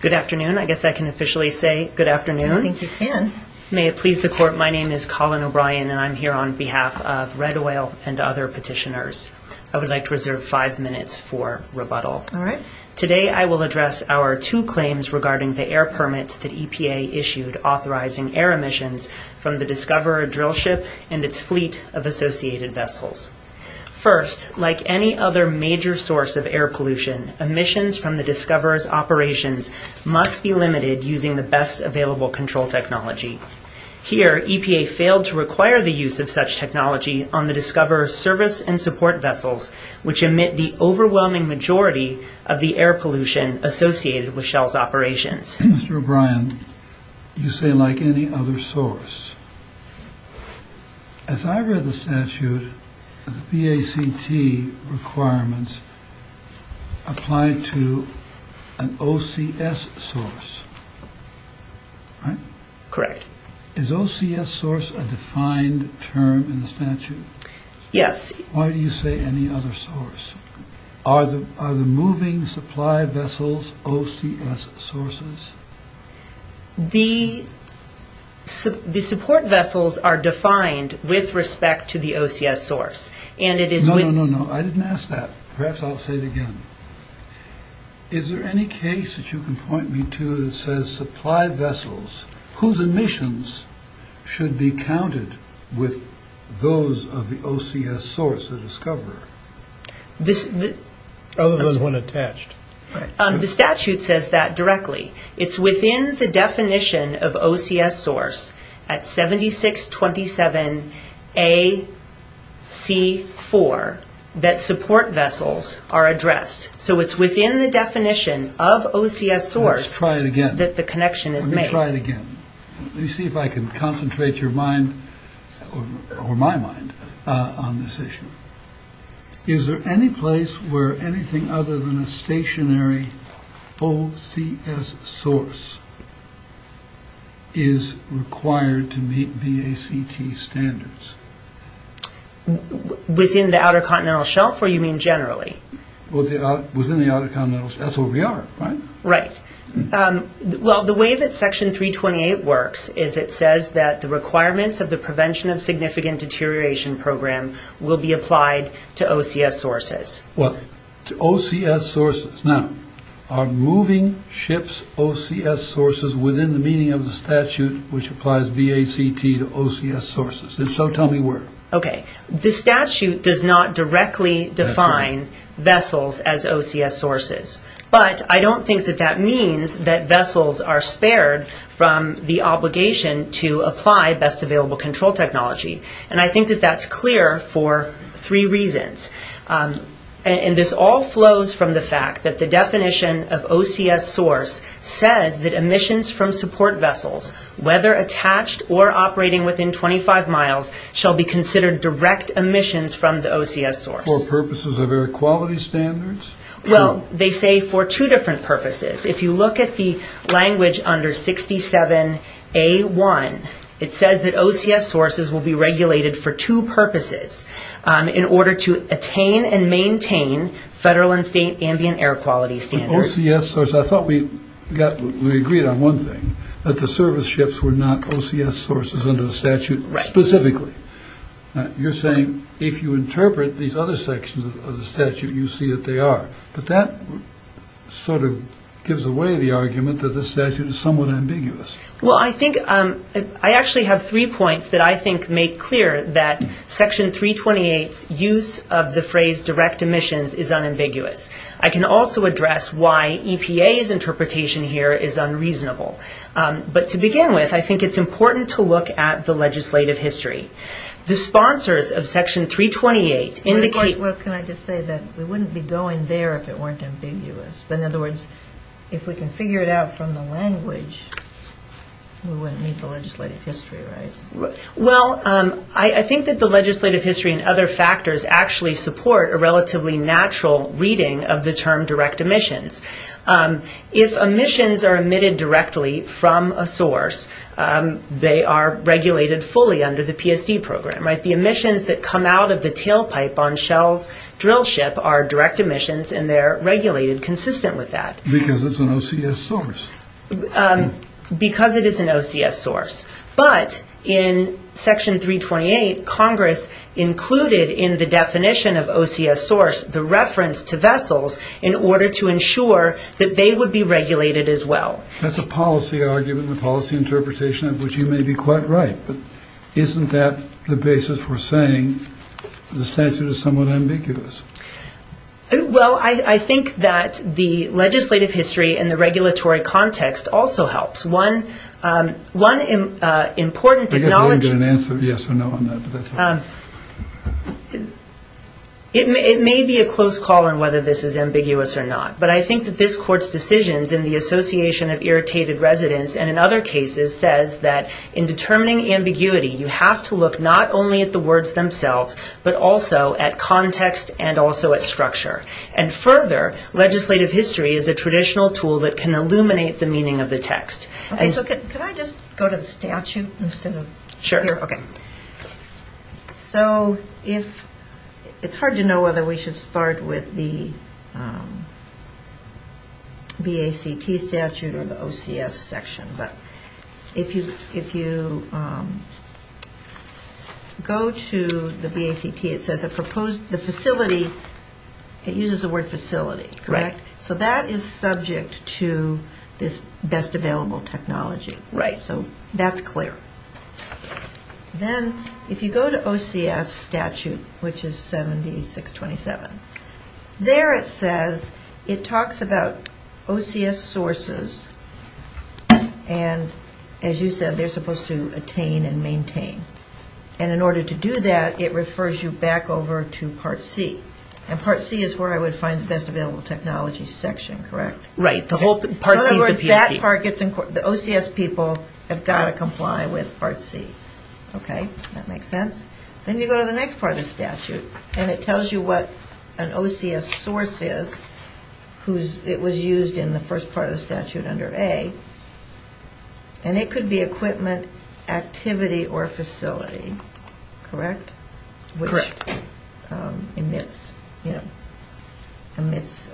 Good afternoon, I guess I can officially say good afternoon. I think you can. May it please the court, my name is Colin O'Brien and I'm here on behalf of Red Oil and other petitioners. I would like to reserve five minutes for rebuttal. Today I will address our two claims regarding the air permits that EPA issued authorizing air emissions from the Discoverer drill ship and its fleet of associated vessels. First, like any other major source of air pollution, emissions from the Discoverer's operations must be limited using the best available control technology. Here, EPA failed to require the use of such technology on the Discoverer's service and support vessels, which emit the overwhelming majority of the air pollution associated with Shell's operations. Mr. O'Brien, you say like any other source. As I read the statute, the BACT requirements apply to an OCS source, right? Correct. Is OCS source a defined term in the statute? Yes. Why do you say any other source? Are the moving supply vessels OCS sources? The support vessels are defined with respect to the OCS source. No, no, no. I didn't ask that. Perhaps I'll say it again. Is there any case that you can point me to that says supply vessels whose emissions should be counted with those of the OCS source, the Discoverer? Other than the one attached. The statute says that directly. It's within the definition of OCS source at 7627AC4 that support vessels are addressed. So it's within the definition of OCS source that the connection is made. Let's try it again. Let me see if I can concentrate your mind, or my mind, on this issue. Is there any place where anything other than a stationary OCS source is required to meet BACT standards? Within the Outer Continental Shelf, or you mean generally? Within the Outer Continental Shelf. That's where we are, right? Right. Well, the way that Section 328 works is it says that the requirements of the Prevention of Significant Deterioration Program will be applied to OCS sources. Well, to OCS sources. Now, are moving ships OCS sources within the meaning of the statute which applies BACT to OCS sources? And so tell me where. Okay. The statute does not directly define vessels as OCS sources. But I don't think that that means that vessels are spared from the obligation to apply best available control technology. And I think that that's clear for three reasons. And this all flows from the fact that the definition of OCS source says that emissions from support vessels, whether attached or operating within 25 miles, shall be considered direct emissions from the OCS source. For purposes of air quality standards? Well, they say for two different purposes. If you look at the language under 67A1, it says that OCS sources will be regulated for two purposes. In order to attain and maintain federal and state ambient air quality standards. I thought we agreed on one thing, that the service ships were not OCS sources under the statute specifically. You're saying if you interpret these other sections of the statute, you see that they are. But that sort of gives away the argument that the statute is somewhat ambiguous. Well, I think I actually have three points that I think make clear that Section 328's use of the phrase direct emissions is unambiguous. I can also address why EPA's interpretation here is unreasonable. But to begin with, I think it's important to look at the legislative history. The sponsors of Section 328 indicate... Well, can I just say that we wouldn't be going there if it weren't ambiguous. But in other words, if we can figure it out from the language, we wouldn't need the legislative history, right? Well, I think that the legislative history and other factors actually support a relatively natural reading of the term direct emissions. If emissions are emitted directly from a source, they are regulated fully under the PSD program, right? The emissions that come out of the tailpipe on Shell's drill ship are direct emissions and they're regulated consistent with that. Because it's an OCS source. Because it is an OCS source. But in Section 328, Congress included in the definition of OCS source the reference to vessels in order to ensure that they would be regulated as well. That's a policy argument and a policy interpretation of which you may be quite right. But isn't that the basis for saying the statute is somewhat ambiguous? Well, I think that the legislative history and the regulatory context also helps. One important... I guess I didn't get an answer yes or no on that. It may be a close call on whether this is ambiguous or not. But I think that this court's decisions in the Association of Irritated Residents and in other cases says that in determining ambiguity, you have to look not only at the words themselves, but also at context and also at structure. And further, legislative history is a traditional tool that can illuminate the meaning of the text. Okay, so could I just go to the statute instead of... Sure. Okay. So it's hard to know whether we should start with the BACT statute or the OCS section. But if you go to the BACT, it says the facility, it uses the word facility, correct? Correct. So that is subject to this best available technology. Right. So that's clear. Then if you go to OCS statute, which is 7627, there it says it talks about OCS sources. And as you said, they're supposed to attain and maintain. And in order to do that, it refers you back over to Part C. And Part C is where I would find the best available technology section, correct? Right. Part C is the PC. The OCS people have got to comply with Part C. Okay, that makes sense. Then you go to the next part of the statute, and it tells you what an OCS source is. It was used in the first part of the statute under A. And it could be equipment, activity, or facility, correct? Correct. Which emits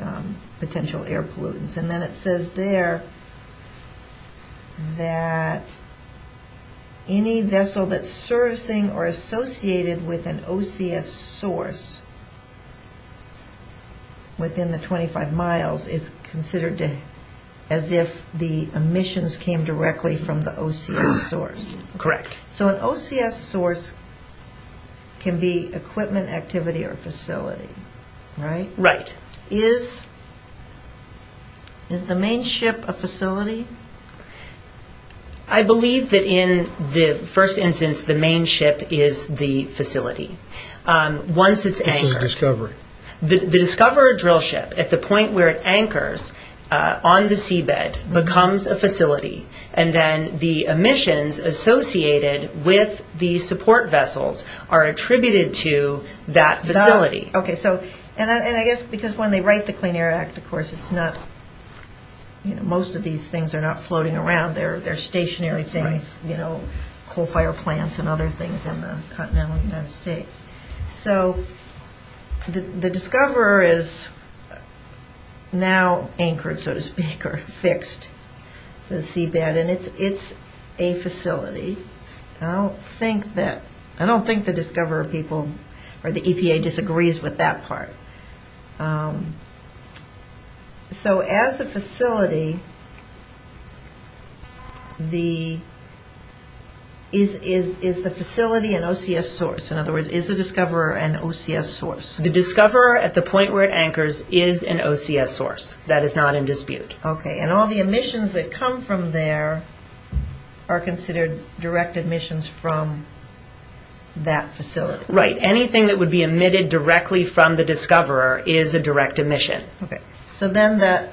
potential air pollutants. And then it says there that any vessel that's servicing or associated with an OCS source within the 25 miles is considered as if the emissions came directly from the OCS source. Correct. So an OCS source can be equipment, activity, or facility, right? Right. Is the main ship a facility? I believe that in the first instance, the main ship is the facility. Once it's anchored. This is discovery. The discoverer drill ship, at the point where it anchors on the seabed, becomes a facility. And then the emissions associated with the support vessels are attributed to that facility. And I guess because when they write the Clean Air Act, of course, most of these things are not floating around. They're stationary things, coal fire plants and other things in the continental United States. So the discoverer is now anchored, so to speak, or fixed to the seabed. And it's a facility. I don't think the discoverer people or the EPA disagrees with that part. So as a facility, is the facility an OCS source? In other words, is the discoverer an OCS source? The discoverer, at the point where it anchors, is an OCS source. That is not in dispute. Okay. And all the emissions that come from there are considered direct emissions from that facility. Right. Anything that would be emitted directly from the discoverer is a direct emission. Okay. So then the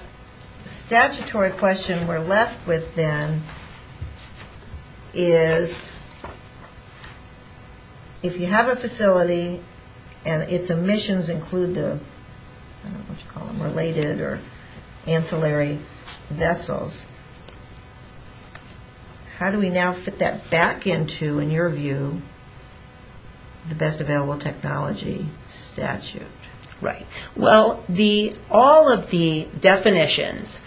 statutory question we're left with then is, if you have a facility and its emissions include the, I don't know what you call them, related or ancillary vessels, how do we now fit that back into, in your view, the best available technology statute? Right. Well, all of the definitions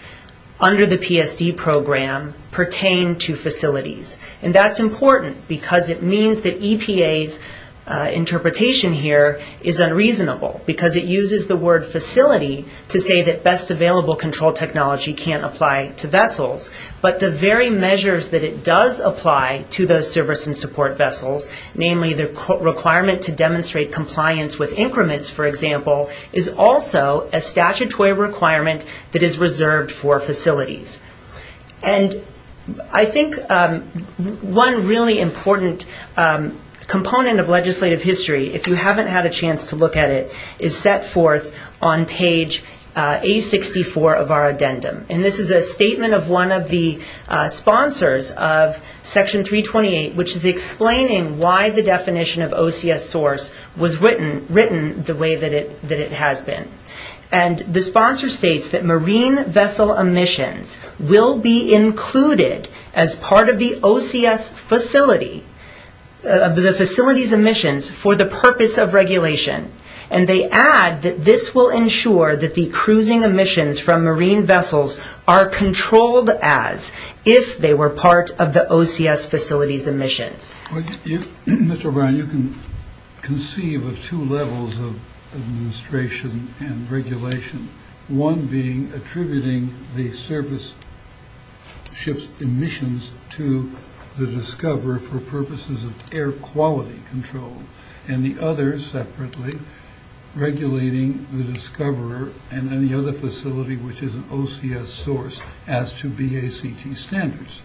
under the PSD program pertain to facilities. And that's important because it means that EPA's interpretation here is unreasonable because it uses the word facility to say that best available control technology can't apply to vessels. But the very measures that it does apply to those service and support vessels, namely the requirement to demonstrate compliance with increments, for example, is also a statutory requirement that is reserved for facilities. And I think one really important component of legislative history, if you haven't had a chance to look at it, is set forth on page A64 of our addendum. And this is a statement of one of the sponsors of Section 328, which is explaining why the definition of OCS source was written the way that it has been. And the sponsor states that marine vessel emissions will be included as part of the OCS facility, the facility's emissions, for the purpose of regulation. And they add that this will ensure that the cruising emissions from marine vessels are controlled as if they were part of the OCS facility's emissions. Mr. O'Brien, you can conceive of two levels of administration and regulation, one being attributing the service ship's emissions to the discoverer for purposes of air quality control, and the other separately regulating the discoverer and then the other facility, which is an OCS source, as to BACT standards.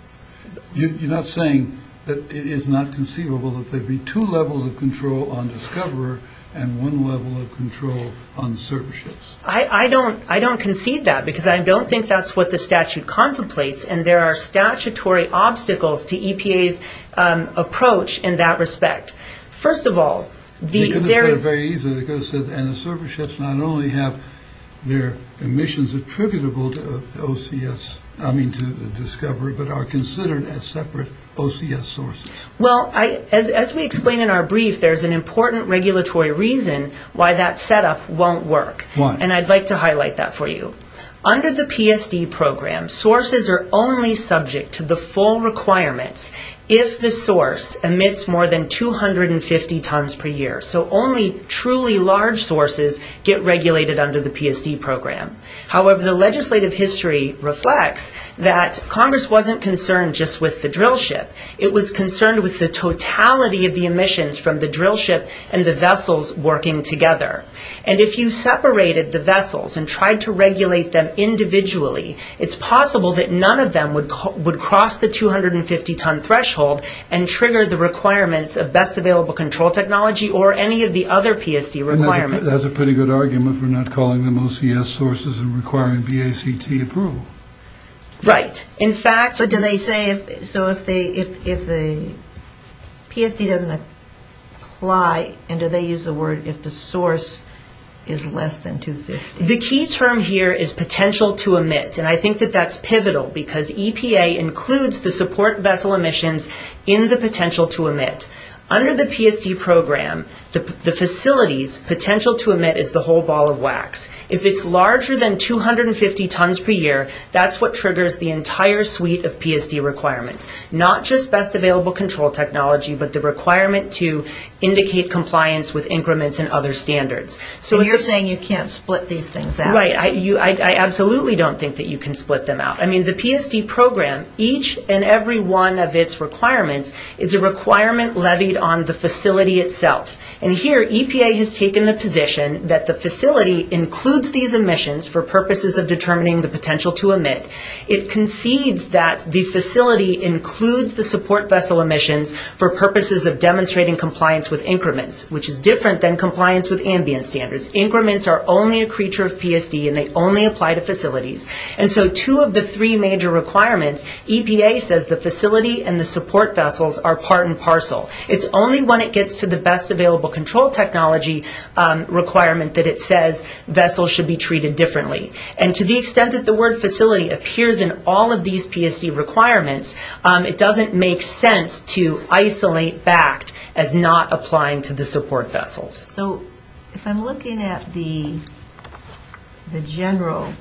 You're not saying that it is not conceivable that there would be two levels of control on discoverer and one level of control on the service ships? I don't concede that because I don't think that's what the statute contemplates, and there are statutory obstacles to EPA's approach in that respect. First of all, there is... You could have said it very easily. You could have said, and the service ships not only have their emissions attributable to OCS, I mean to the discoverer, but are considered as separate OCS sources. Well, as we explain in our brief, there's an important regulatory reason why that setup won't work. Why? And I'd like to highlight that for you. Under the PSD program, sources are only subject to the full requirements if the source emits more than 250 tons per year. So only truly large sources get regulated under the PSD program. However, the legislative history reflects that Congress wasn't concerned just with the drill ship. It was concerned with the totality of the emissions from the drill ship and the vessels working together. And if you separated the vessels and tried to regulate them individually, it's possible that none of them would cross the 250-ton threshold and trigger the requirements of best available control technology or any of the other PSD requirements. That's a pretty good argument for not calling them OCS sources and requiring BACT approval. Right. In fact... But do they say if the PSD doesn't apply, and do they use the word if the source is less than 250? The key term here is potential to emit, and I think that that's pivotal because EPA includes the support vessel emissions in the potential to emit. Under the PSD program, the facility's potential to emit is the whole ball of wax. If it's larger than 250 tons per year, that's what triggers the entire suite of PSD requirements, not just best available control technology, but the requirement to indicate compliance with increments and other standards. And you're saying you can't split these things out. Right. I absolutely don't think that you can split them out. I mean, the PSD program, each and every one of its requirements, is a requirement levied on the facility itself. And here, EPA has taken the position that the facility includes these emissions for purposes of determining the potential to emit. It concedes that the facility includes the support vessel emissions for purposes of demonstrating compliance with increments, which is different than compliance with ambient standards. Increments are only a creature of PSD, and they only apply to facilities. And so two of the three major requirements, EPA says the facility and the support vessels are part and parcel. It's only when it gets to the best available control technology requirement that it says vessels should be treated differently. And to the extent that the word facility appears in all of these PSD requirements, it doesn't make sense to isolate BACT as not applying to the support vessels. So if I'm looking at the general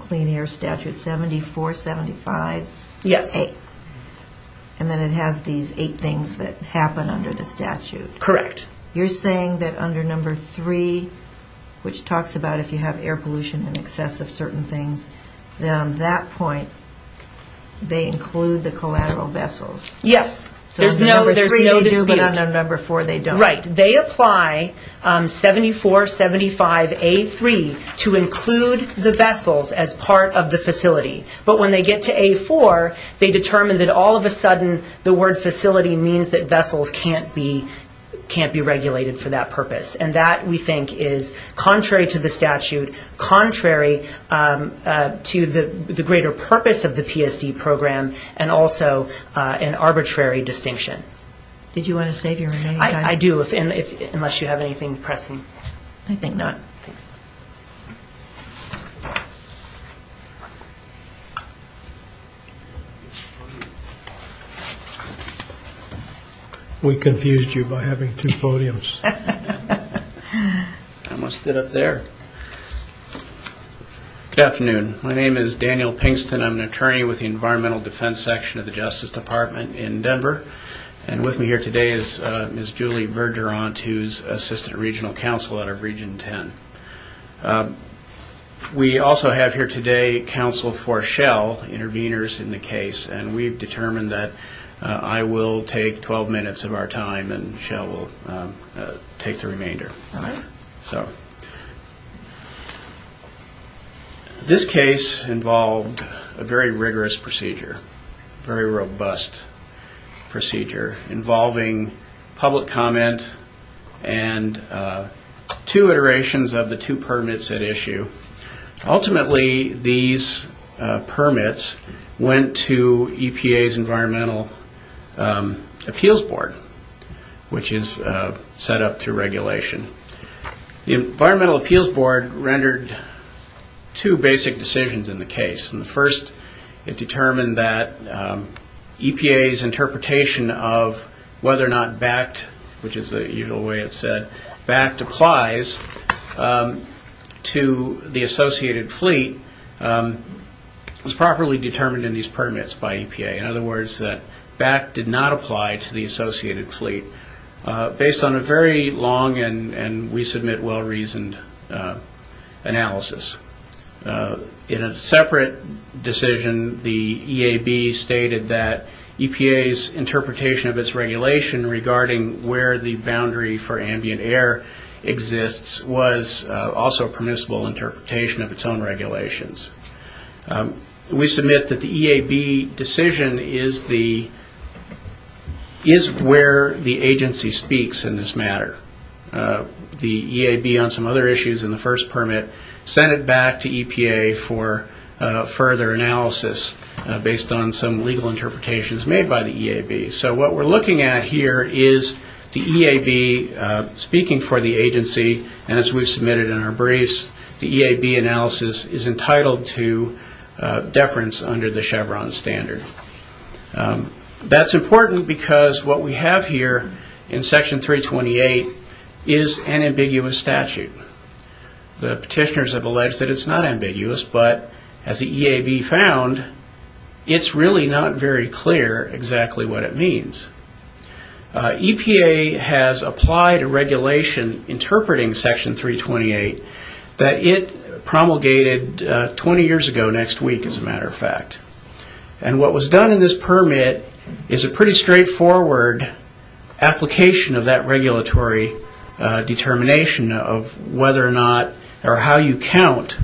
clean air statute, 74, 75. Yes. And then it has these eight things that happen under the statute. Correct. You're saying that under number three, which talks about if you have air pollution in excess of certain things, then on that point they include the collateral vessels. Yes. So on number three they do, but on number four they don't. Right. They apply 74, 75, A3 to include the vessels as part of the facility. But when they get to A4, they determine that all of a sudden the word facility means that vessels can't be regulated for that purpose. And that, we think, is contrary to the statute, contrary to the greater purpose of the PSD program, and also an arbitrary distinction. Did you want to say anything? I do, unless you have anything pressing. I think not. Thanks. We confused you by having two podiums. I almost stood up there. Good afternoon. My name is Daniel Pinkston. I'm an attorney with the Environmental Defense Section of the Justice Department in Denver. And with me here today is Ms. Julie Vergeront, who is Assistant Regional Counsel out of Region 10. We also have here today counsel for Shell, intervenors in the case, and we've determined that I will take 12 minutes of our time and Shell will take the remainder. All right. So this case involved a very rigorous procedure, very robust procedure involving public comment and two iterations of the two permits at issue. Ultimately, these permits went to EPA's Environmental Appeals Board, which is set up to regulation. The Environmental Appeals Board rendered two basic decisions in the case. In the first, it determined that EPA's interpretation of whether or not BACT, which is the usual way it's said, BACT applies to the associated fleet, was properly determined in these permits by EPA. In other words, that BACT did not apply to the associated fleet, based on a very long and, we submit, well-reasoned analysis. In a separate decision, the EAB stated that EPA's interpretation of its regulation regarding where the boundary for ambient air exists was also permissible interpretation of its own regulations. We submit that the EAB decision is where the agency speaks in this matter. The EAB, on some other issues in the first permit, sent it back to EPA for further analysis, based on some legal interpretations made by the EAB. So what we're looking at here is the EAB speaking for the agency, and as we've submitted in our briefs, the EAB analysis is entitled to deference under the Chevron standard. That's important because what we have here in Section 328 is an ambiguous statute. The petitioners have alleged that it's not ambiguous, but as the EAB found, it's really not very clear exactly what it means. EPA has applied a regulation interpreting Section 328 that it promulgated 20 years ago next week, as a matter of fact. And what was done in this permit is a pretty straightforward application of that regulatory determination of whether or not or how you count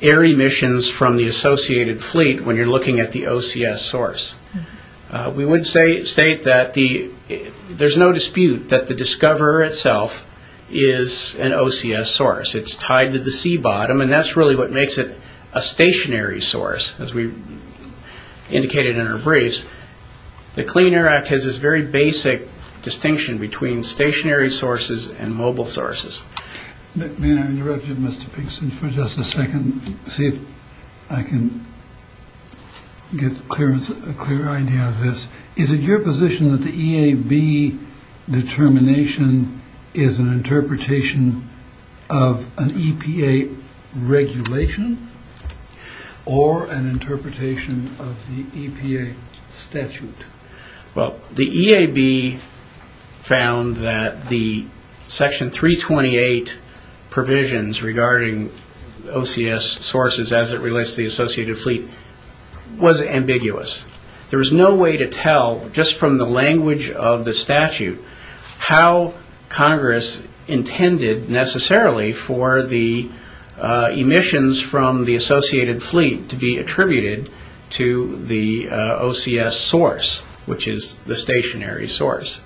air emissions from the associated fleet when you're looking at the OCS source. We would state that there's no dispute that the discoverer itself is an OCS source. It's tied to the sea bottom, and that's really what makes it a stationary source. As we indicated in our briefs, the Clean Air Act has this very basic distinction between stationary sources and mobile sources. May I interrupt you, Mr. Pinkson, for just a second, see if I can get a clear idea of this. Is it your position that the EAB determination is an interpretation of an EPA regulation or an interpretation of the EPA statute? Well, the EAB found that the Section 328 provisions regarding OCS sources as it relates to the associated fleet was ambiguous. There was no way to tell, just from the language of the statute, how Congress intended necessarily for the emissions from the associated fleet to be attributed to the OCS source, which is the stationary source.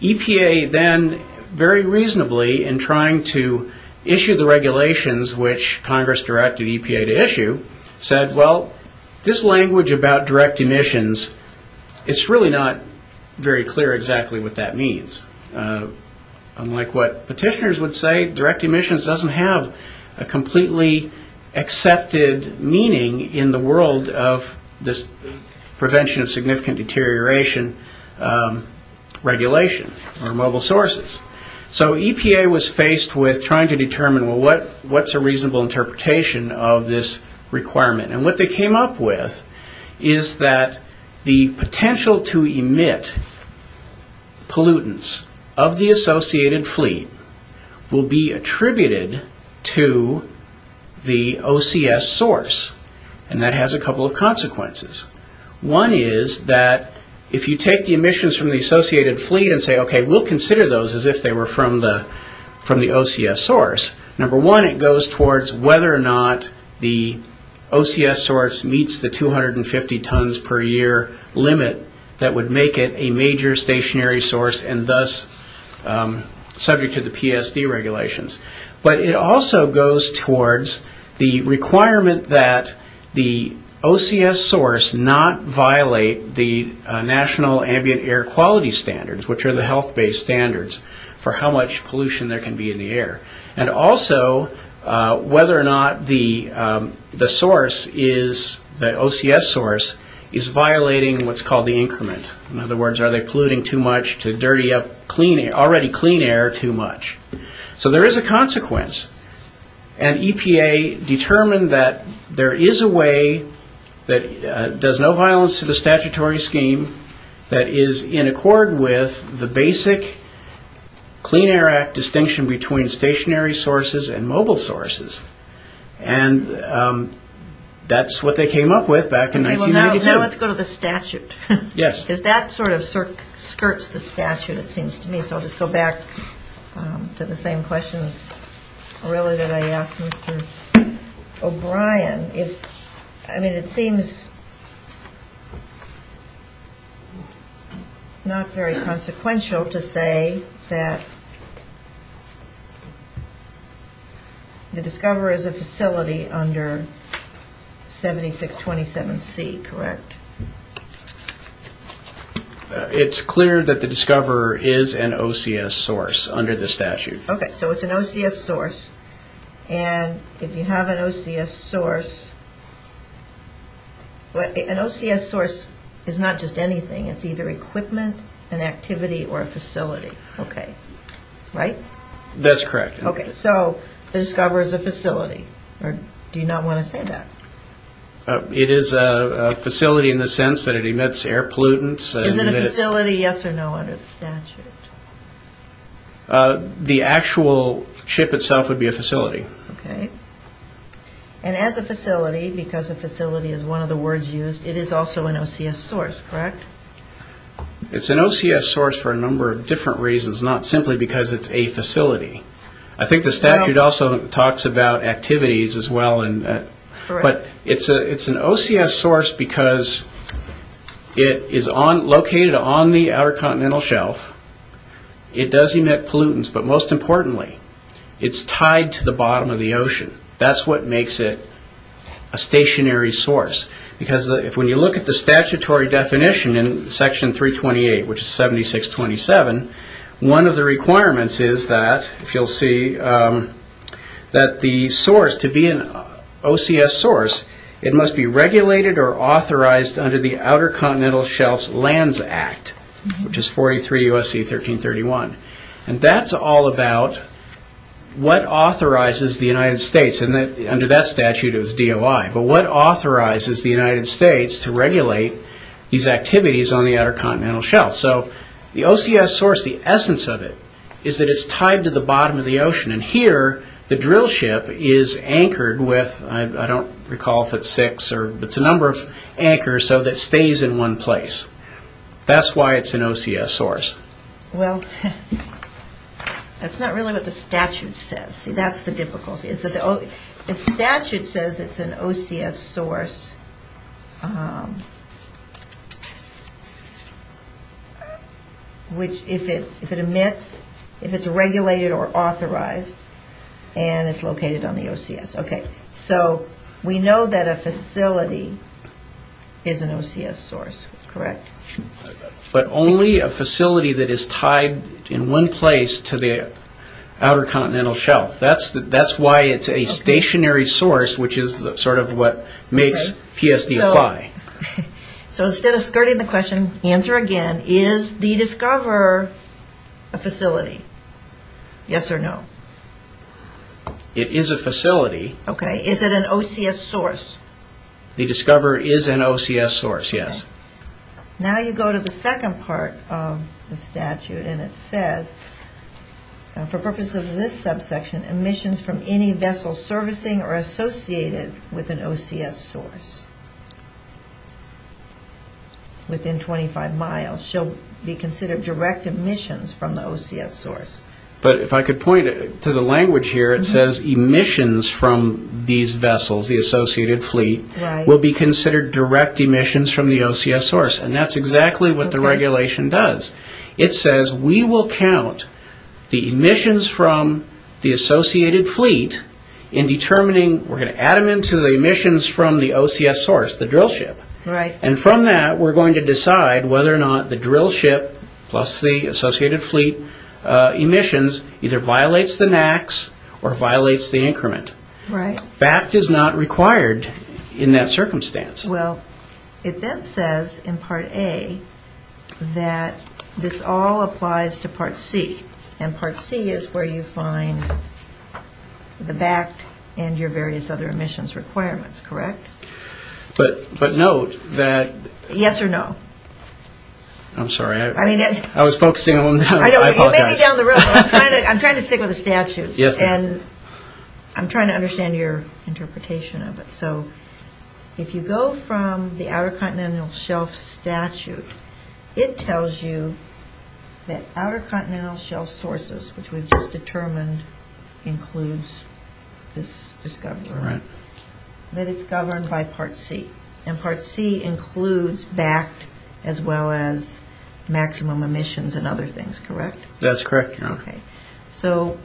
EPA then, very reasonably, in trying to issue the regulations which Congress directed EPA to issue, said, well, this language about direct emissions, it's really not very clear exactly what that means. Unlike what petitioners would say, direct emissions doesn't have a completely accepted meaning in the world of this prevention of significant deterioration regulation or mobile sources. So EPA was faced with trying to determine, well, what's a reasonable interpretation of this requirement? And what they came up with is that the potential to emit pollutants of the associated fleet will be attributed to the OCS source, and that has a couple of consequences. One is that if you take the emissions from the associated fleet and say, okay, we'll consider those as if they were from the OCS source. Number one, it goes towards whether or not the OCS source meets the 250 tons per year limit that would make it a major stationary source and thus subject to the PSD regulations. But it also goes towards the requirement that the OCS source not violate the National Ambient Air Quality Standards, which are the health-based standards for how much pollution there can be in the air, and also whether or not the OCS source is violating what's called the increment. In other words, are they polluting too much to dirty up already clean air too much? So there is a consequence, and EPA determined that there is a way that does no violence to the statutory scheme that is in accord with the basic Clean Air Act distinction between stationary sources and mobile sources. And that's what they came up with back in 1992. Now let's go to the statute. Yes. Because that sort of skirts the statute, it seems to me. So I'll just go back to the same questions really that I asked Mr. O'Brien. I mean, it seems not very consequential to say that the Discoverer is a facility under 7627C, correct? It's clear that the Discoverer is an OCS source under the statute. Okay. So it's an OCS source, and if you have an OCS source, an OCS source is not just anything. It's either equipment, an activity, or a facility. Okay. Right? That's correct. Okay. So the Discoverer is a facility, or do you not want to say that? It is a facility in the sense that it emits air pollutants. Is it a facility, yes or no, under the statute? The actual ship itself would be a facility. Okay. And as a facility, because a facility is one of the words used, it is also an OCS source, correct? It's an OCS source for a number of different reasons, not simply because it's a facility. I think the statute also talks about activities as well. Correct. But it's an OCS source because it is located on the Outer Continental Shelf. It does emit pollutants, but most importantly, it's tied to the bottom of the ocean. That's what makes it a stationary source. Because when you look at the statutory definition in Section 328, which is 7627, one of the requirements is that, if you'll see, that the source, to be an OCS source, it must be regulated or authorized under the Outer Continental Shelf Lands Act, which is 43 U.S.C. 1331. And that's all about what authorizes the United States, and under that statute it was DOI, but what authorizes the United States to regulate these activities on the Outer Continental Shelf. So the OCS source, the essence of it, is that it's tied to the bottom of the ocean. And here, the drill ship is anchored with, I don't recall if it's six, but it's a number of anchors so that it stays in one place. That's why it's an OCS source. Well, that's not really what the statute says. See, that's the difficulty. The statute says it's an OCS source, which, if it emits, if it's regulated or authorized, and it's located on the OCS. Okay, so we know that a facility is an OCS source, correct? But only a facility that is tied in one place to the Outer Continental Shelf. That's why it's a stationary source, which is sort of what makes PSD apply. So instead of skirting the question, answer again. Is the Discover a facility, yes or no? It is a facility. Okay, is it an OCS source? The Discover is an OCS source, yes. Now you go to the second part of the statute, and it says, for purposes of this subsection, emissions from any vessel servicing are associated with an OCS source within 25 miles shall be considered direct emissions from the OCS source. But if I could point to the language here, it says emissions from these vessels, the associated fleet, will be considered direct emissions from the OCS source, and that's exactly what the regulation does. It says we will count the emissions from the associated fleet in determining, we're going to add them into the emissions from the OCS source, the drill ship. And from that, we're going to decide whether or not the drill ship plus the associated fleet emissions either violates the NACs or violates the increment. Right. BACT is not required in that circumstance. Well, it then says in Part A that this all applies to Part C, and Part C is where you find the BACT and your various other emissions requirements, correct? But note that... Yes or no? I'm sorry. I was focusing on, I apologize. You made me down the road. I'm trying to stick with the statutes. I'm trying to understand your interpretation of it. So if you go from the Outer Continental Shelf Statute, it tells you that Outer Continental Shelf sources, which we've just determined includes this discovery. Right. That it's governed by Part C, and Part C includes BACT as well as maximum emissions and other things, correct? That's correct. Okay. So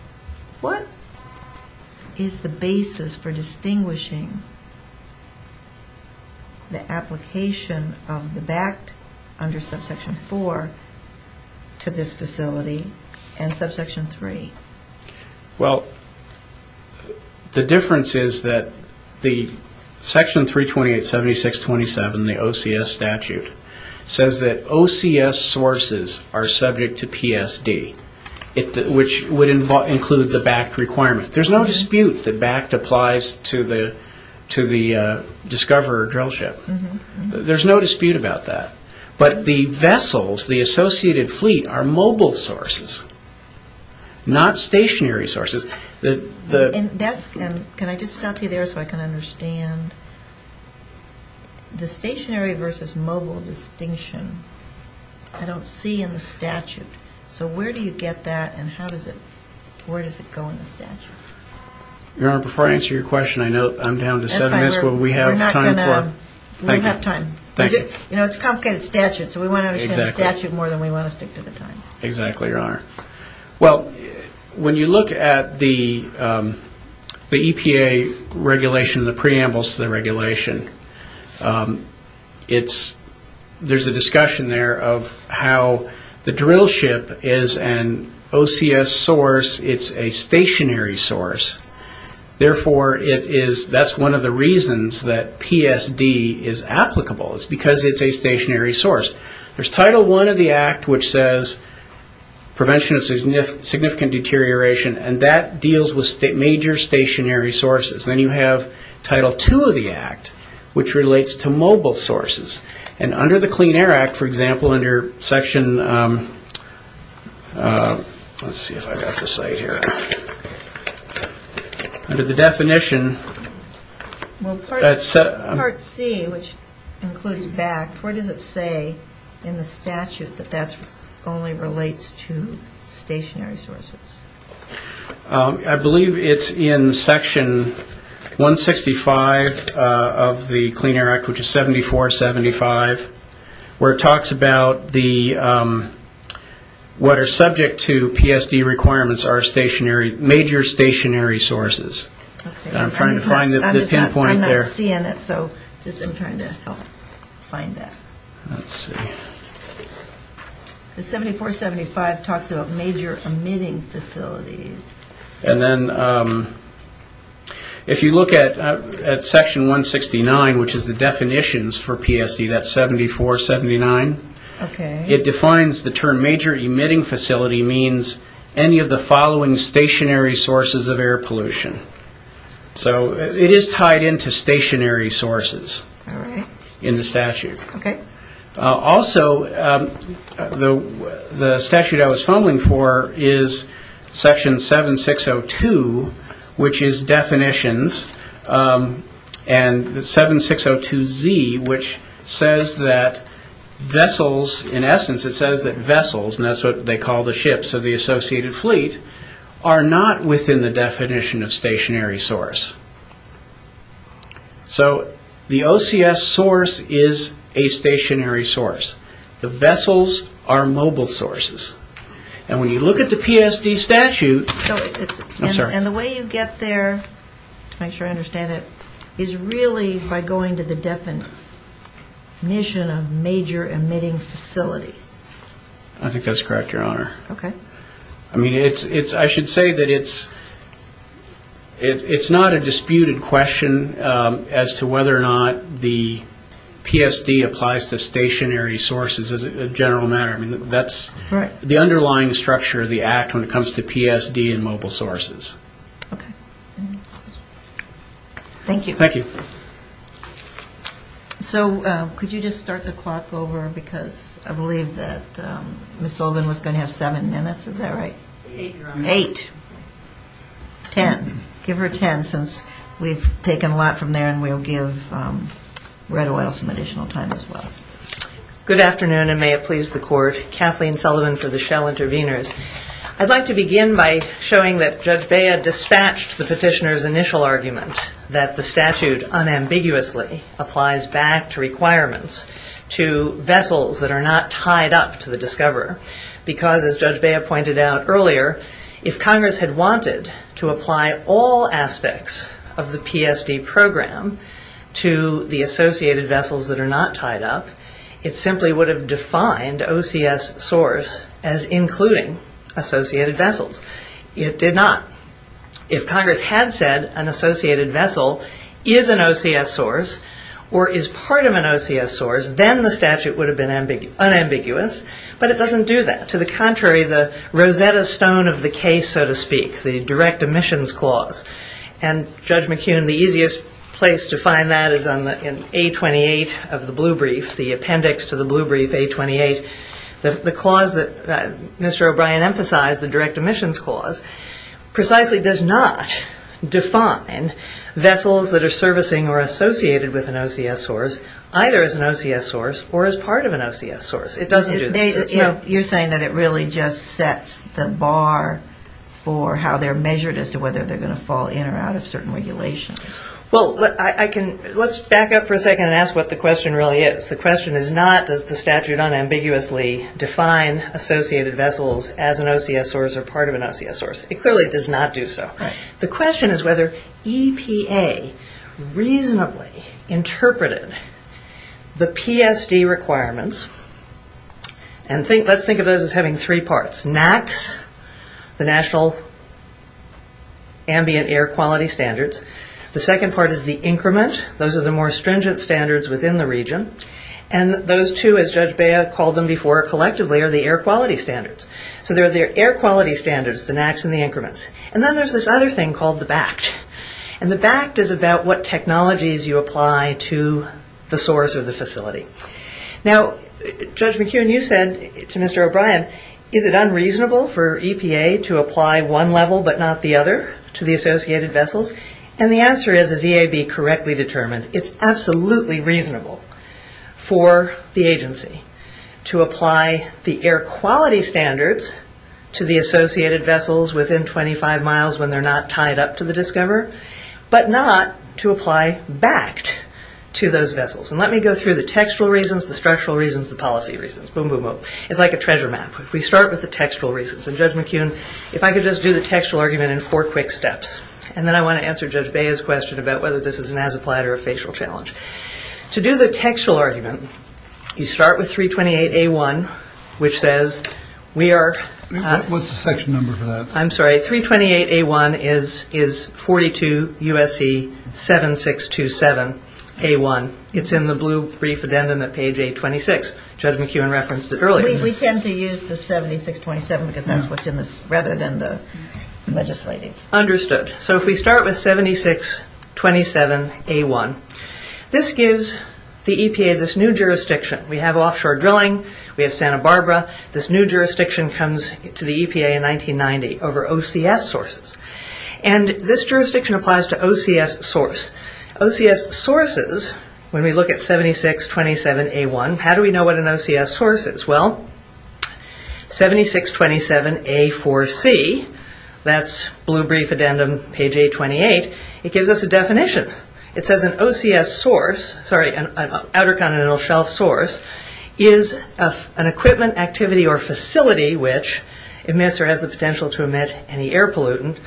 what is the basis for distinguishing the application of the BACT under Subsection 4 to this facility and Subsection 3? Well, the difference is that the Section 328.76.27, the OCS statute, says that OCS sources are subject to PSD, which would include the BACT requirement. There's no dispute that BACT applies to the Discoverer drill ship. There's no dispute about that. But the vessels, the associated fleet, are mobile sources, not stationary sources. Can I just stop you there so I can understand? The stationary versus mobile distinction I don't see in the statute. So where do you get that, and where does it go in the statute? Your Honor, before I answer your question, I know I'm down to seven minutes. That's fine. We have time for it. We don't have time. Thank you. You know, it's a complicated statute, so we want to understand the statute more than we want to stick to the time. Exactly, Your Honor. Well, when you look at the EPA regulation, the preambles to the regulation, there's a discussion there of how the drill ship is an OCS source. It's a stationary source. Therefore, that's one of the reasons that PSD is applicable. It's because it's a stationary source. There's Title I of the Act, which says prevention of significant deterioration, and that deals with major stationary sources. Then you have Title II of the Act, which relates to mobile sources. And under the Clean Air Act, for example, under Section – let's see if I got this right here. Under the definition – Part C, which includes BACT, what does it say in the statute that that only relates to stationary sources? I believe it's in Section 165 of the Clean Air Act, which is 7475, where it talks about what are subject to PSD requirements are major stationary sources. I'm trying to find the pinpoint there. I'm not seeing it, so I'm trying to help find that. Let's see. The 7475 talks about major emitting facilities. And then if you look at Section 169, which is the definitions for PSD, that's 7479, it defines the term major emitting facility means any of the following stationary sources of air pollution. So it is tied into stationary sources in the statute. Also, the statute I was fumbling for is Section 7602, which is definitions, and 7602Z, which says that vessels – in essence, it says that vessels, and that's what they call the ships of the associated fleet – are not within the definition of stationary source. So the OCS source is a stationary source. The vessels are mobile sources. And when you look at the PSD statute – I'm sorry. And the way you get there, to make sure I understand it, is really by going to the definition of major emitting facility. I think that's correct, Your Honor. Okay. I mean, I should say that it's not a disputed question as to whether or not the PSD applies to stationary sources as a general matter. I mean, that's the underlying structure of the Act when it comes to PSD and mobile sources. Okay. Thank you. Thank you. So could you just start the clock over? Because I believe that Ms. Sullivan was going to have seven minutes. Is that right? Eight, Your Honor. Eight. Ten. Give her ten since we've taken a lot from there and we'll give Red Oil some additional time as well. Good afternoon, and may it please the Court. Kathleen Sullivan for the Shell Interveners. I'd like to begin by showing that Judge Bea dispatched the petitioner's initial argument that the statute unambiguously applies back to requirements to vessels that are not tied up to the discoverer. Because, as Judge Bea pointed out earlier, if Congress had wanted to apply all aspects of the PSD program to the associated vessels that are not tied up, it simply would have defined OCS source as including associated vessels. It did not. If Congress had said an associated vessel is an OCS source or is part of an OCS source, then the statute would have been unambiguous, but it doesn't do that. To the contrary, the Rosetta Stone of the case, so to speak, the direct omissions clause. And, Judge McKeon, the easiest place to find that is in A28 of the blue brief, the appendix to the blue brief, A28. The clause that Mr. O'Brien emphasized, the direct omissions clause, precisely does not define vessels that are servicing or associated with an OCS source either as an OCS source or as part of an OCS source. It doesn't do that. You're saying that it really just sets the bar for how they're measured as to whether they're going to fall in or out of certain regulations. Well, let's back up for a second and ask what the question really is. The question is not does the statute unambiguously define associated vessels as an OCS source or part of an OCS source. It clearly does not do so. The question is whether EPA reasonably interpreted the PSD requirements and let's think of those as having three parts, NAAQS, the National Ambient Air Quality Standards. The second part is the increment. Those are the more stringent standards within the region. And those two, as Judge Bea called them before collectively, are the air quality standards. So they're the air quality standards, the NAAQS and the increments. And then there's this other thing called the BACT. And the BACT is about what technologies you apply to the source or the facility. Now, Judge McKeown, you said to Mr. O'Brien, is it unreasonable for EPA to apply one level but not the other to the associated vessels? And the answer is, is EAB correctly determined? It's absolutely reasonable for the agency to apply the air quality standards to the associated vessels within 25 miles when they're not tied up to the discoverer but not to apply BACT to those vessels. And let me go through the textual reasons, the structural reasons, the policy reasons. Boom, boom, boom. It's like a treasure map. If we start with the textual reasons, and, Judge McKeown, if I could just do the textual argument in four quick steps, and then I want to answer Judge Bea's question about whether this is an as-applied or a facial challenge. To do the textual argument, you start with 328A1, which says we are— What's the section number for that? I'm sorry, 328A1 is 42 U.S.C. 7627A1. It's in the blue brief addendum at page A26. Judge McKeown referenced it earlier. We tend to use the 7627 because that's what's in this rather than the legislating. Understood. So if we start with 7627A1, this gives the EPA this new jurisdiction. We have offshore drilling. We have Santa Barbara. This new jurisdiction comes to the EPA in 1990 over OCS sources. And this jurisdiction applies to OCS source. OCS sources, when we look at 7627A1, how do we know what an OCS source is? Well, 7627A4C, that's blue brief addendum page A28, it gives us a definition. It says an OCS source, sorry, an Outer Continental Shelf source, is an equipment activity or facility which emits or has the potential to emit any air pollutant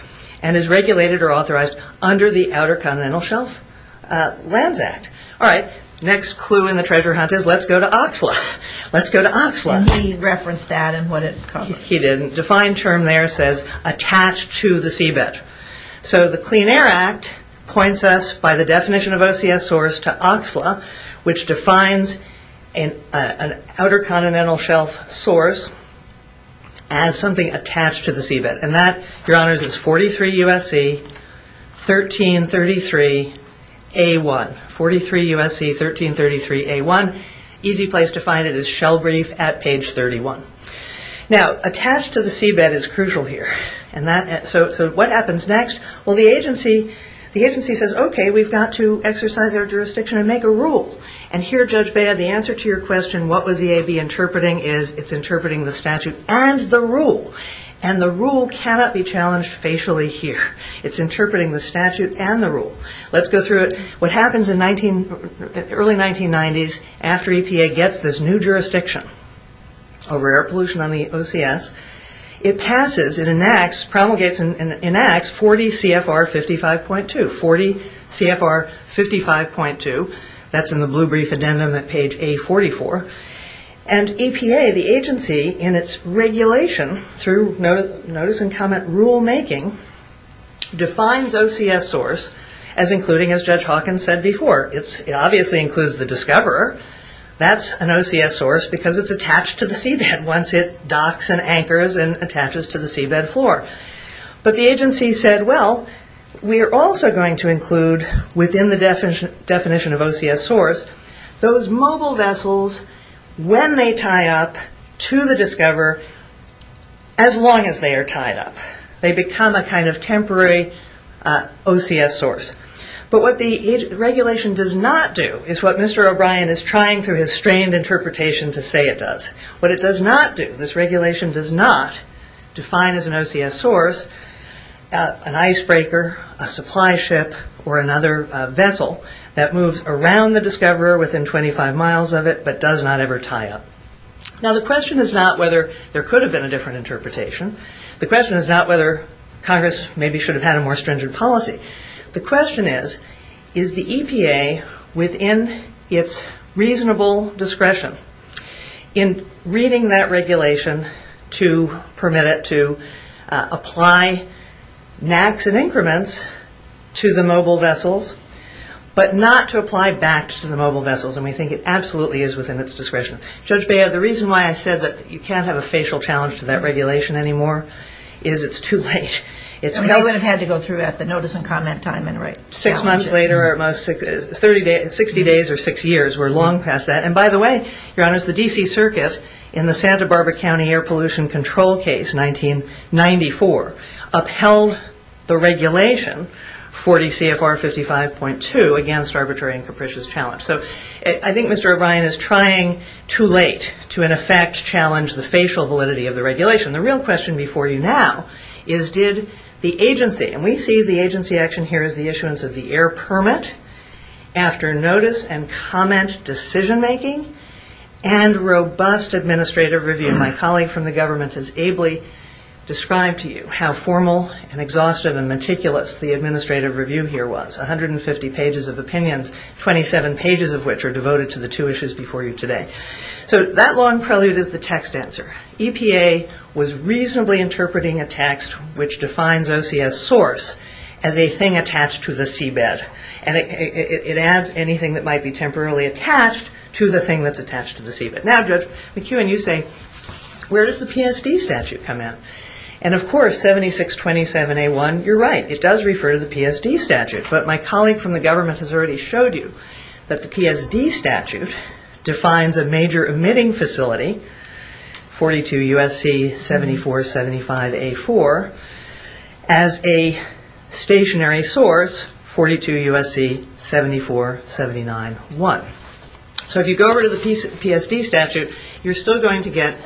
and is regulated or authorized under the Outer Continental Shelf Lands Act. All right. Next clue in the treasure hunt is let's go to Oxla. Let's go to Oxla. He referenced that and what it's called. He did. Defined term there says attached to the seabed. So the Clean Air Act points us by the definition of OCS source to Oxla, which defines an Outer Continental Shelf source as something attached to the seabed. And that, Your Honors, is 43 U.S.C. 1333A1. 43 U.S.C. 1333A1. Easy place to find it is shell brief at page 31. Now, attached to the seabed is crucial here. So what happens next? Well, the agency says, okay, we've got to exercise our jurisdiction and make a rule. And here, Judge Bea, the answer to your question, what was the AB interpreting, is it's interpreting the statute and the rule. And the rule cannot be challenged facially here. It's interpreting the statute and the rule. Let's go through it. What happens in early 1990s after EPA gets this new jurisdiction over air pollution on the OCS, it passes, it enacts, promulgates and enacts 40 CFR 55.2. 40 CFR 55.2. That's in the blue brief addendum at page A44. And EPA, the agency, in its regulation through notice and comment rulemaking, defines OCS source as including, as Judge Hawkins said before, it obviously includes the discoverer. That's an OCS source because it's attached to the seabed once it docks and anchors and attaches to the seabed floor. But the agency said, well, we are also going to include within the definition of OCS source those mobile vessels when they tie up to the discoverer as long as they are tied up. They become a kind of temporary OCS source. But what the regulation does not do is what Mr. O'Brien is trying through his strained interpretation to say it does. What it does not do, this regulation does not define as an OCS source an icebreaker, a supply ship, or another vessel that moves around the discoverer within 25 miles of it but does not ever tie up. Now, the question is not whether there could have been a different interpretation. The question is not whether Congress maybe should have had a more stringent policy. The question is, is the EPA within its reasonable discretion in reading that regulation to permit it to apply NACs and increments to the mobile vessels but not to apply BACs to the mobile vessels? And we think it absolutely is within its discretion. Judge Bea, the reason why I said that you can't have a facial challenge to that regulation anymore is it's too late. I would have had to go through that, the notice and comment time. Six months later, 60 days or six years, we're long past that. And by the way, Your Honors, the D.C. Circuit in the Santa Barbara County Air Pollution Control Case 1994 upheld the regulation 40 CFR 55.2 against arbitrary and capricious challenge. So I think Mr. O'Brien is trying too late to in effect challenge the facial validity of the regulation. The real question before you now is did the agency, and we see the agency action here as the issuance of the air permit after notice and comment decision-making and robust administrative review. My colleague from the government has ably described to you how formal and exhaustive and meticulous the administrative review here was, 150 pages of opinions, 27 pages of which are devoted to the two issues before you today. So that long prelude is the text answer. EPA was reasonably interpreting a text which defines OCS source as a thing attached to the seabed. And it adds anything that might be temporarily attached to the thing that's attached to the seabed. Now, Judge McEwen, you say, where does the PSD statute come in? And of course 7627A1, you're right, it does refer to the PSD statute. But my colleague from the government has already showed you that the PSD statute defines a major emitting facility 42 U.S.C. 7475A4 as a stationary source, 42 U.S.C. 7479A1. So if you go over to the PSD statute, you're still going to get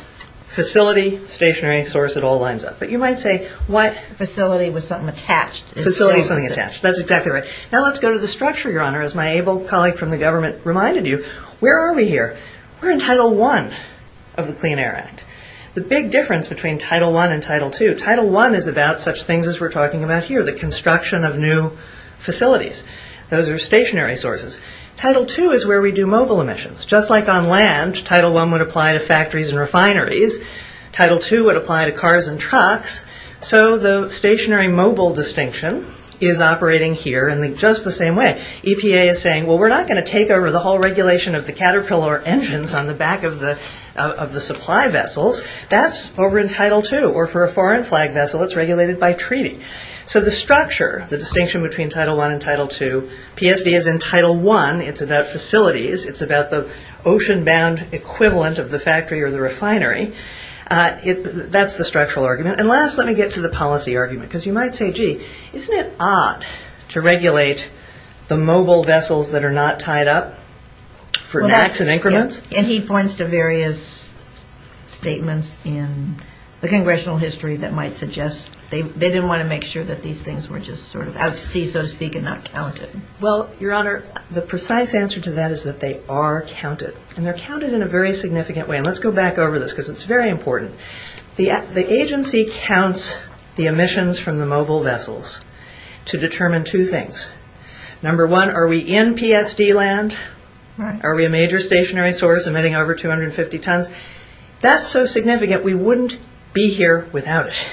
facility, stationary source, it all lines up. But you might say what facility was something attached? Facility was something attached. That's exactly right. Now let's go to the structure, Your Honor. As my able colleague from the government reminded you, where are we here? We're in Title I of the Clean Air Act. The big difference between Title I and Title II, Title I is about such things as we're talking about here, the construction of new facilities. Those are stationary sources. Title II is where we do mobile emissions. Just like on land, Title I would apply to factories and refineries. Title II would apply to cars and trucks. So the stationary mobile distinction is operating here in just the same way. EPA is saying, well, we're not going to take over the whole regulation of the caterpillar engines on the back of the supply vessels. That's over in Title II. Or for a foreign flag vessel, it's regulated by treaty. So the structure, the distinction between Title I and Title II, PSD is in Title I. It's about facilities. It's about the ocean-bound equivalent of the factory or the refinery. That's the structural argument. And last, let me get to the policy argument. Because you might say, gee, isn't it odd to regulate the mobile vessels that are not tied up for nacks and increments? And he points to various statements in the congressional history that might suggest they didn't want to make sure that these things were just sort of out to sea, so to speak, and not counted. Well, Your Honor, the precise answer to that is that they are counted. And they're counted in a very significant way. And let's go back over this because it's very important. The agency counts the emissions from the mobile vessels to determine two things. Number one, are we in PSD land? Are we a major stationary source emitting over 250 tons? That's so significant we wouldn't be here without it.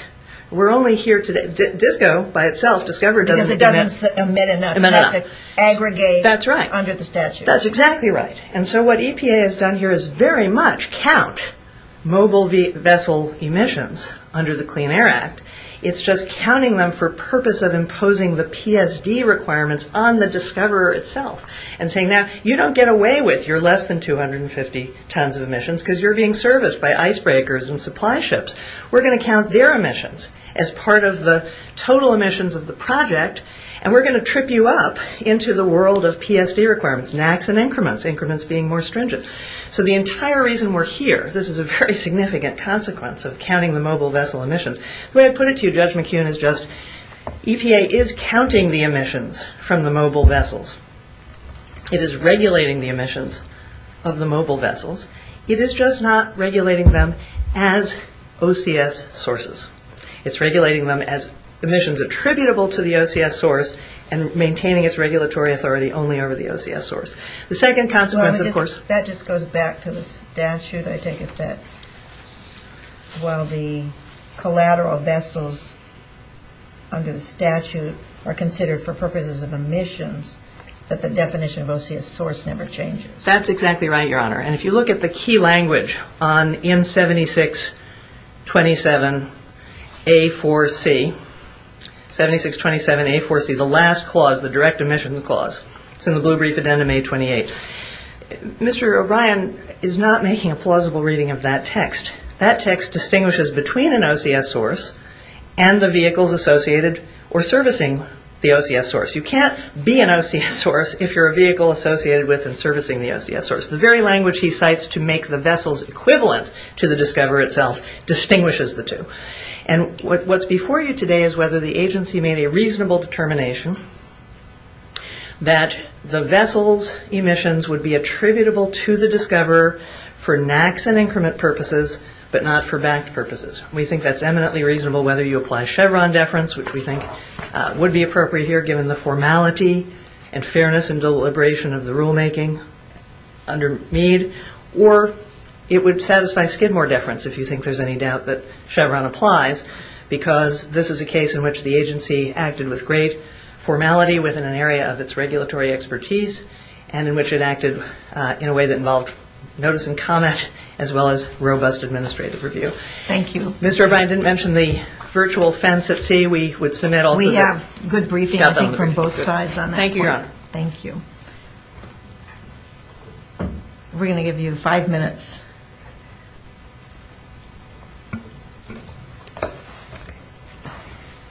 We're only here today. DISCO by itself, DISCOVER, doesn't emit enough. Because it doesn't emit enough. It doesn't aggregate under the statute. That's right. That's exactly right. And so what EPA has done here is very much count mobile vessel emissions under the Clean Air Act. It's just counting them for purpose of imposing the PSD requirements on the DISCOVER itself and saying, now, you don't get away with your less than 250 tons of emissions because you're being serviced by icebreakers and supply ships. We're going to count their emissions as part of the total emissions of the project. And we're going to trip you up into the world of PSD requirements, nacks and increments. Increments being more stringent. So the entire reason we're here, this is a very significant consequence of counting the mobile vessel emissions. The way I put it to you, Judge McKeown, is just EPA is counting the emissions from the mobile vessels. It is regulating the emissions of the mobile vessels. It is just not regulating them as OCS sources. It's regulating them as emissions attributable to the OCS source and maintaining its regulatory authority only over the OCS source. The second consequence, of course... That just goes back to the statute. I take it that while the collateral vessels under the statute are considered for purposes of emissions, that the definition of OCS source never changes. That's exactly right, Your Honor. And if you look at the key language on M7627A4C, 7627A4C, the last clause, the direct emissions clause, it's in the blue brief addendum A28. Mr. O'Brien is not making a plausible reading of that text. That text distinguishes between an OCS source and the vehicles associated or servicing the OCS source. You can't be an OCS source if you're a vehicle associated with and servicing the OCS source. The very language he cites to make the vessels equivalent to the discoverer itself distinguishes the two. And what's before you today is whether the agency made a reasonable determination that the vessels' emissions would be attributable to the discoverer for NACs and increment purposes, but not for BACT purposes. We think that's eminently reasonable whether you apply Chevron deference, which we think would be appropriate here, given the formality and fairness and deliberation of the rulemaking under Mead, or it would satisfy Skidmore deference, if you think there's any doubt that Chevron applies, because this is a case in which the agency acted with great formality within an area of its regulatory expertise and in which it acted in a way that involved notice and comment as well as robust administrative review. Thank you. Mr. O'Brien didn't mention the virtual fence at sea. We have good briefing, I think, from both sides on that point. Thank you, Your Honor. Thank you. We're going to give you five minutes.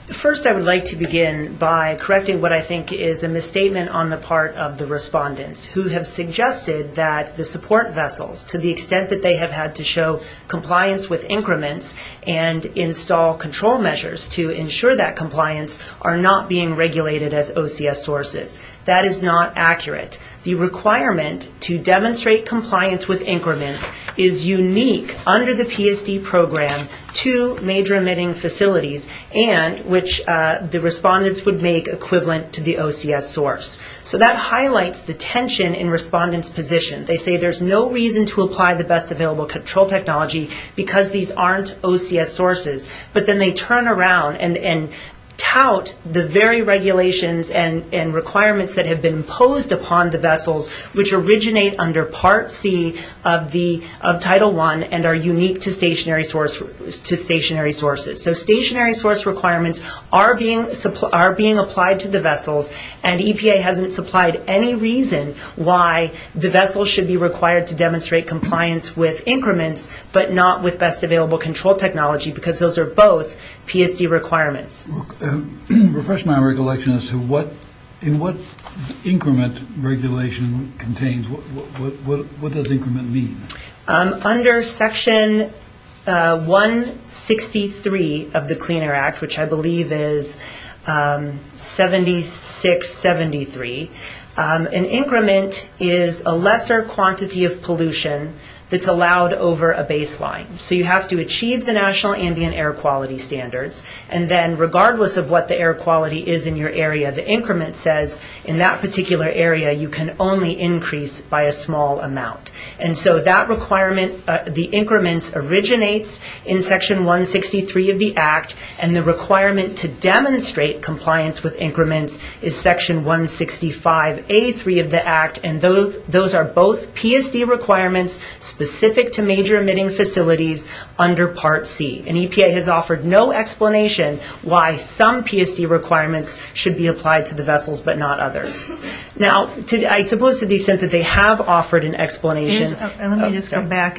First, I would like to begin by correcting what I think is a misstatement on the part of the respondents, who have suggested that the support vessels, to the extent that they have had to show compliance with increments and install control measures to ensure that compliance, are not being regulated as OCS sources. That is not accurate. The requirement to demonstrate compliance with increments is unique under the PSD program to major emitting facilities and which the respondents would make equivalent to the OCS source. So that highlights the tension in respondents' position. They say there's no reason to apply the best available control technology because these aren't OCS sources. But then they turn around and tout the very regulations and requirements that have been imposed upon the vessels, which originate under Part C of Title I and are unique to stationary sources. So stationary source requirements are being applied to the vessels, and EPA hasn't supplied any reason why the vessels should be required to demonstrate compliance with increments, but not with best available control technology because those are both PSD requirements. Refresh my recollection as to what increment regulation contains. What does increment mean? Under Section 163 of the Clean Air Act, which I believe is 7673, an increment is a lesser quantity of pollution that's allowed over a baseline. So you have to achieve the National Ambient Air Quality Standards, and then regardless of what the air quality is in your area, the increment says in that particular area, you can only increase by a small amount. And so that requirement, the increments, originates in Section 163 of the Act, and the requirement to demonstrate compliance with increments is Section 165A3 of the Act, and those are both PSD requirements specific to major emitting facilities under Part C. And EPA has offered no explanation why some PSD requirements should be applied to the vessels but not others. Now, I suppose to the extent that they have offered an explanation. Let me just go back.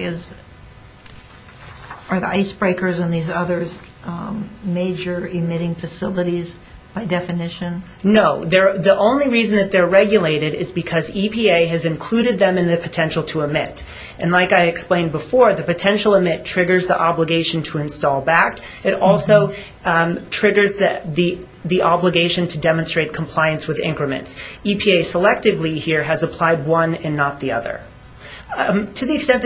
Are the icebreakers and these others major emitting facilities by definition? No. The only reason that they're regulated is because EPA has included them in the potential to emit, and like I explained before, the potential emit triggers the obligation to install back. It also triggers the obligation to demonstrate compliance with increments. EPA selectively here has applied one and not the other. To the extent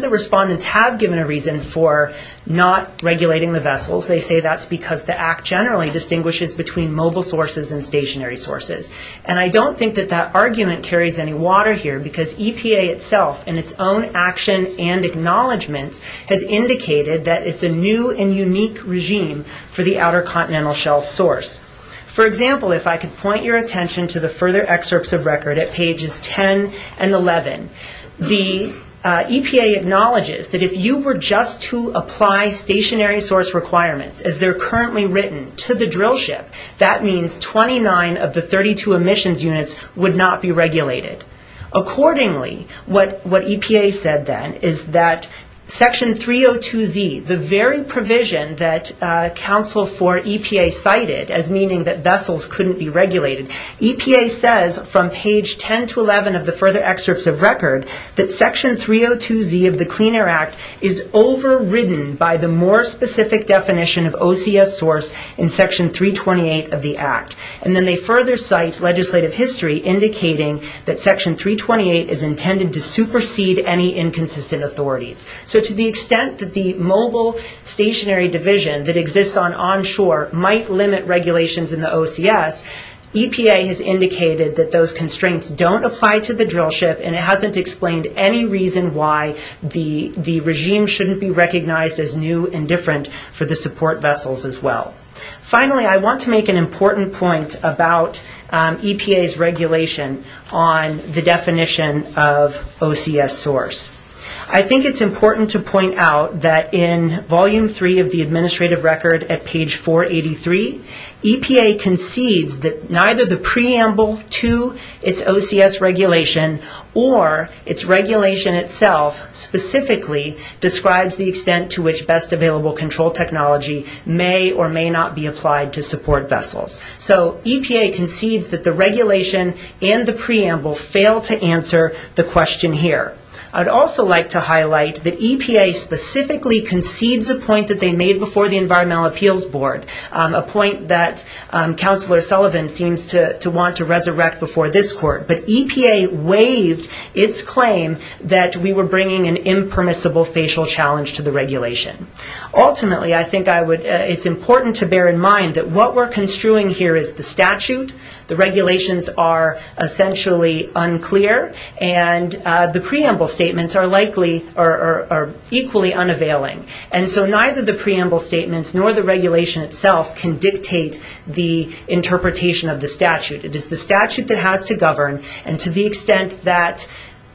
that respondents have given a reason for not regulating the vessels, they say that's because the Act generally distinguishes between mobile sources and stationary sources. And I don't think that that argument carries any water here, because EPA itself in its own action and acknowledgments has indicated that it's a new and unique regime for the Outer Continental Shelf source. For example, if I could point your attention to the further excerpts of record at pages 10 and 11, the EPA acknowledges that if you were just to apply stationary source requirements, as they're currently written, to the drill ship, that means 29 of the 32 emissions units would not be regulated. Accordingly, what EPA said then is that Section 302Z, the very provision that counsel for EPA cited as meaning that vessels couldn't be regulated, EPA says from page 10 to 11 of the further excerpts of record that Section 302Z of the Clean Air Act is overridden by the more specific definition of OCS source in Section 328 of the Act. And then they further cite legislative history indicating that Section 328 is intended to supersede any inconsistent authorities. So to the extent that the mobile stationary division that exists on onshore might limit regulations in the OCS, EPA has indicated that those constraints don't apply to the drill ship, and it hasn't explained any reason why the regime shouldn't be recognized as new and different for the support vessels as well. Finally, I want to make an important point about EPA's regulation on the definition of OCS source. I think it's important to point out that in Volume 3 of the administrative record at page 483, EPA concedes that neither the preamble to its OCS regulation or its regulation itself specifically describes the extent to which best available control technology may or may not be applied to support vessels. So EPA concedes that the regulation and the preamble fail to answer the question here. I'd also like to highlight that EPA specifically concedes a point that they made before the Environmental Appeals Board, a point that Counselor Sullivan seems to want to resurrect before this court. But EPA waived its claim that we were bringing an impermissible facial challenge to the regulation. Ultimately, I think it's important to bear in mind that what we're construing here is the statute, the regulations are essentially unclear, and the preamble statements are equally unavailing. And so neither the preamble statements nor the regulation itself can dictate the interpretation of the statute. It is the statute that has to govern, and to the extent that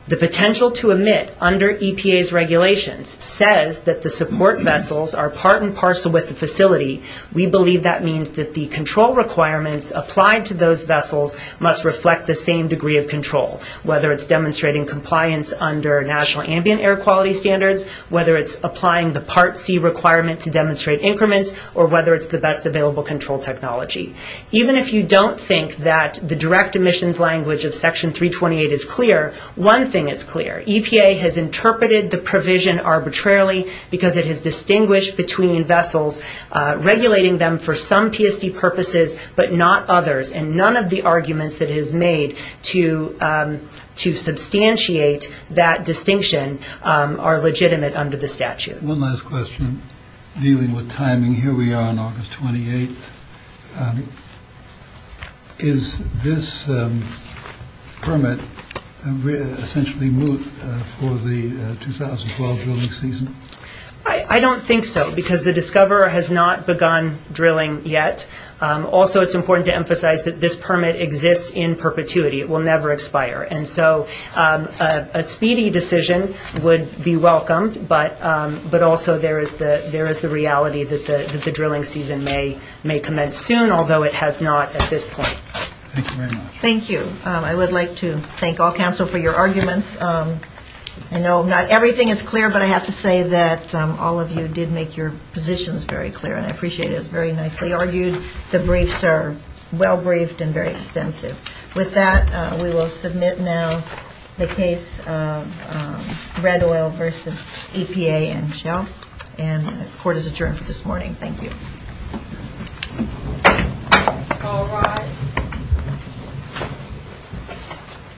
the potential to emit under EPA's regulations says that the support vessels are part and parcel with the facility, we believe that means that the control requirements applied to those vessels must reflect the same degree of control, whether it's demonstrating compliance under national ambient air quality standards, whether it's applying the Part C requirement to demonstrate increments, or whether it's the best available control technology. Even if you don't think that the direct emissions language of Section 328 is clear, one thing is clear. EPA has interpreted the provision arbitrarily because it has distinguished between vessels, regulating them for some PSD purposes but not others, and none of the arguments that it has made to substantiate that distinction are legitimate under the statute. One last question dealing with timing. Here we are on August 28th. Is this permit essentially moot for the 2012 drilling season? I don't think so because the discoverer has not begun drilling yet. Also, it's important to emphasize that this permit exists in perpetuity. It will never expire. And so a speedy decision would be welcomed, but also there is the reality that the drilling season may commence soon, although it has not at this point. Thank you very much. Thank you. I would like to thank all counsel for your arguments. I know not everything is clear, but I have to say that all of you did make your positions very clear, and I appreciate it. It was very nicely argued. The briefs are well briefed and very extensive. With that, we will submit now the case of red oil versus EPA and Shell, and the court is adjourned for this morning. Thank you.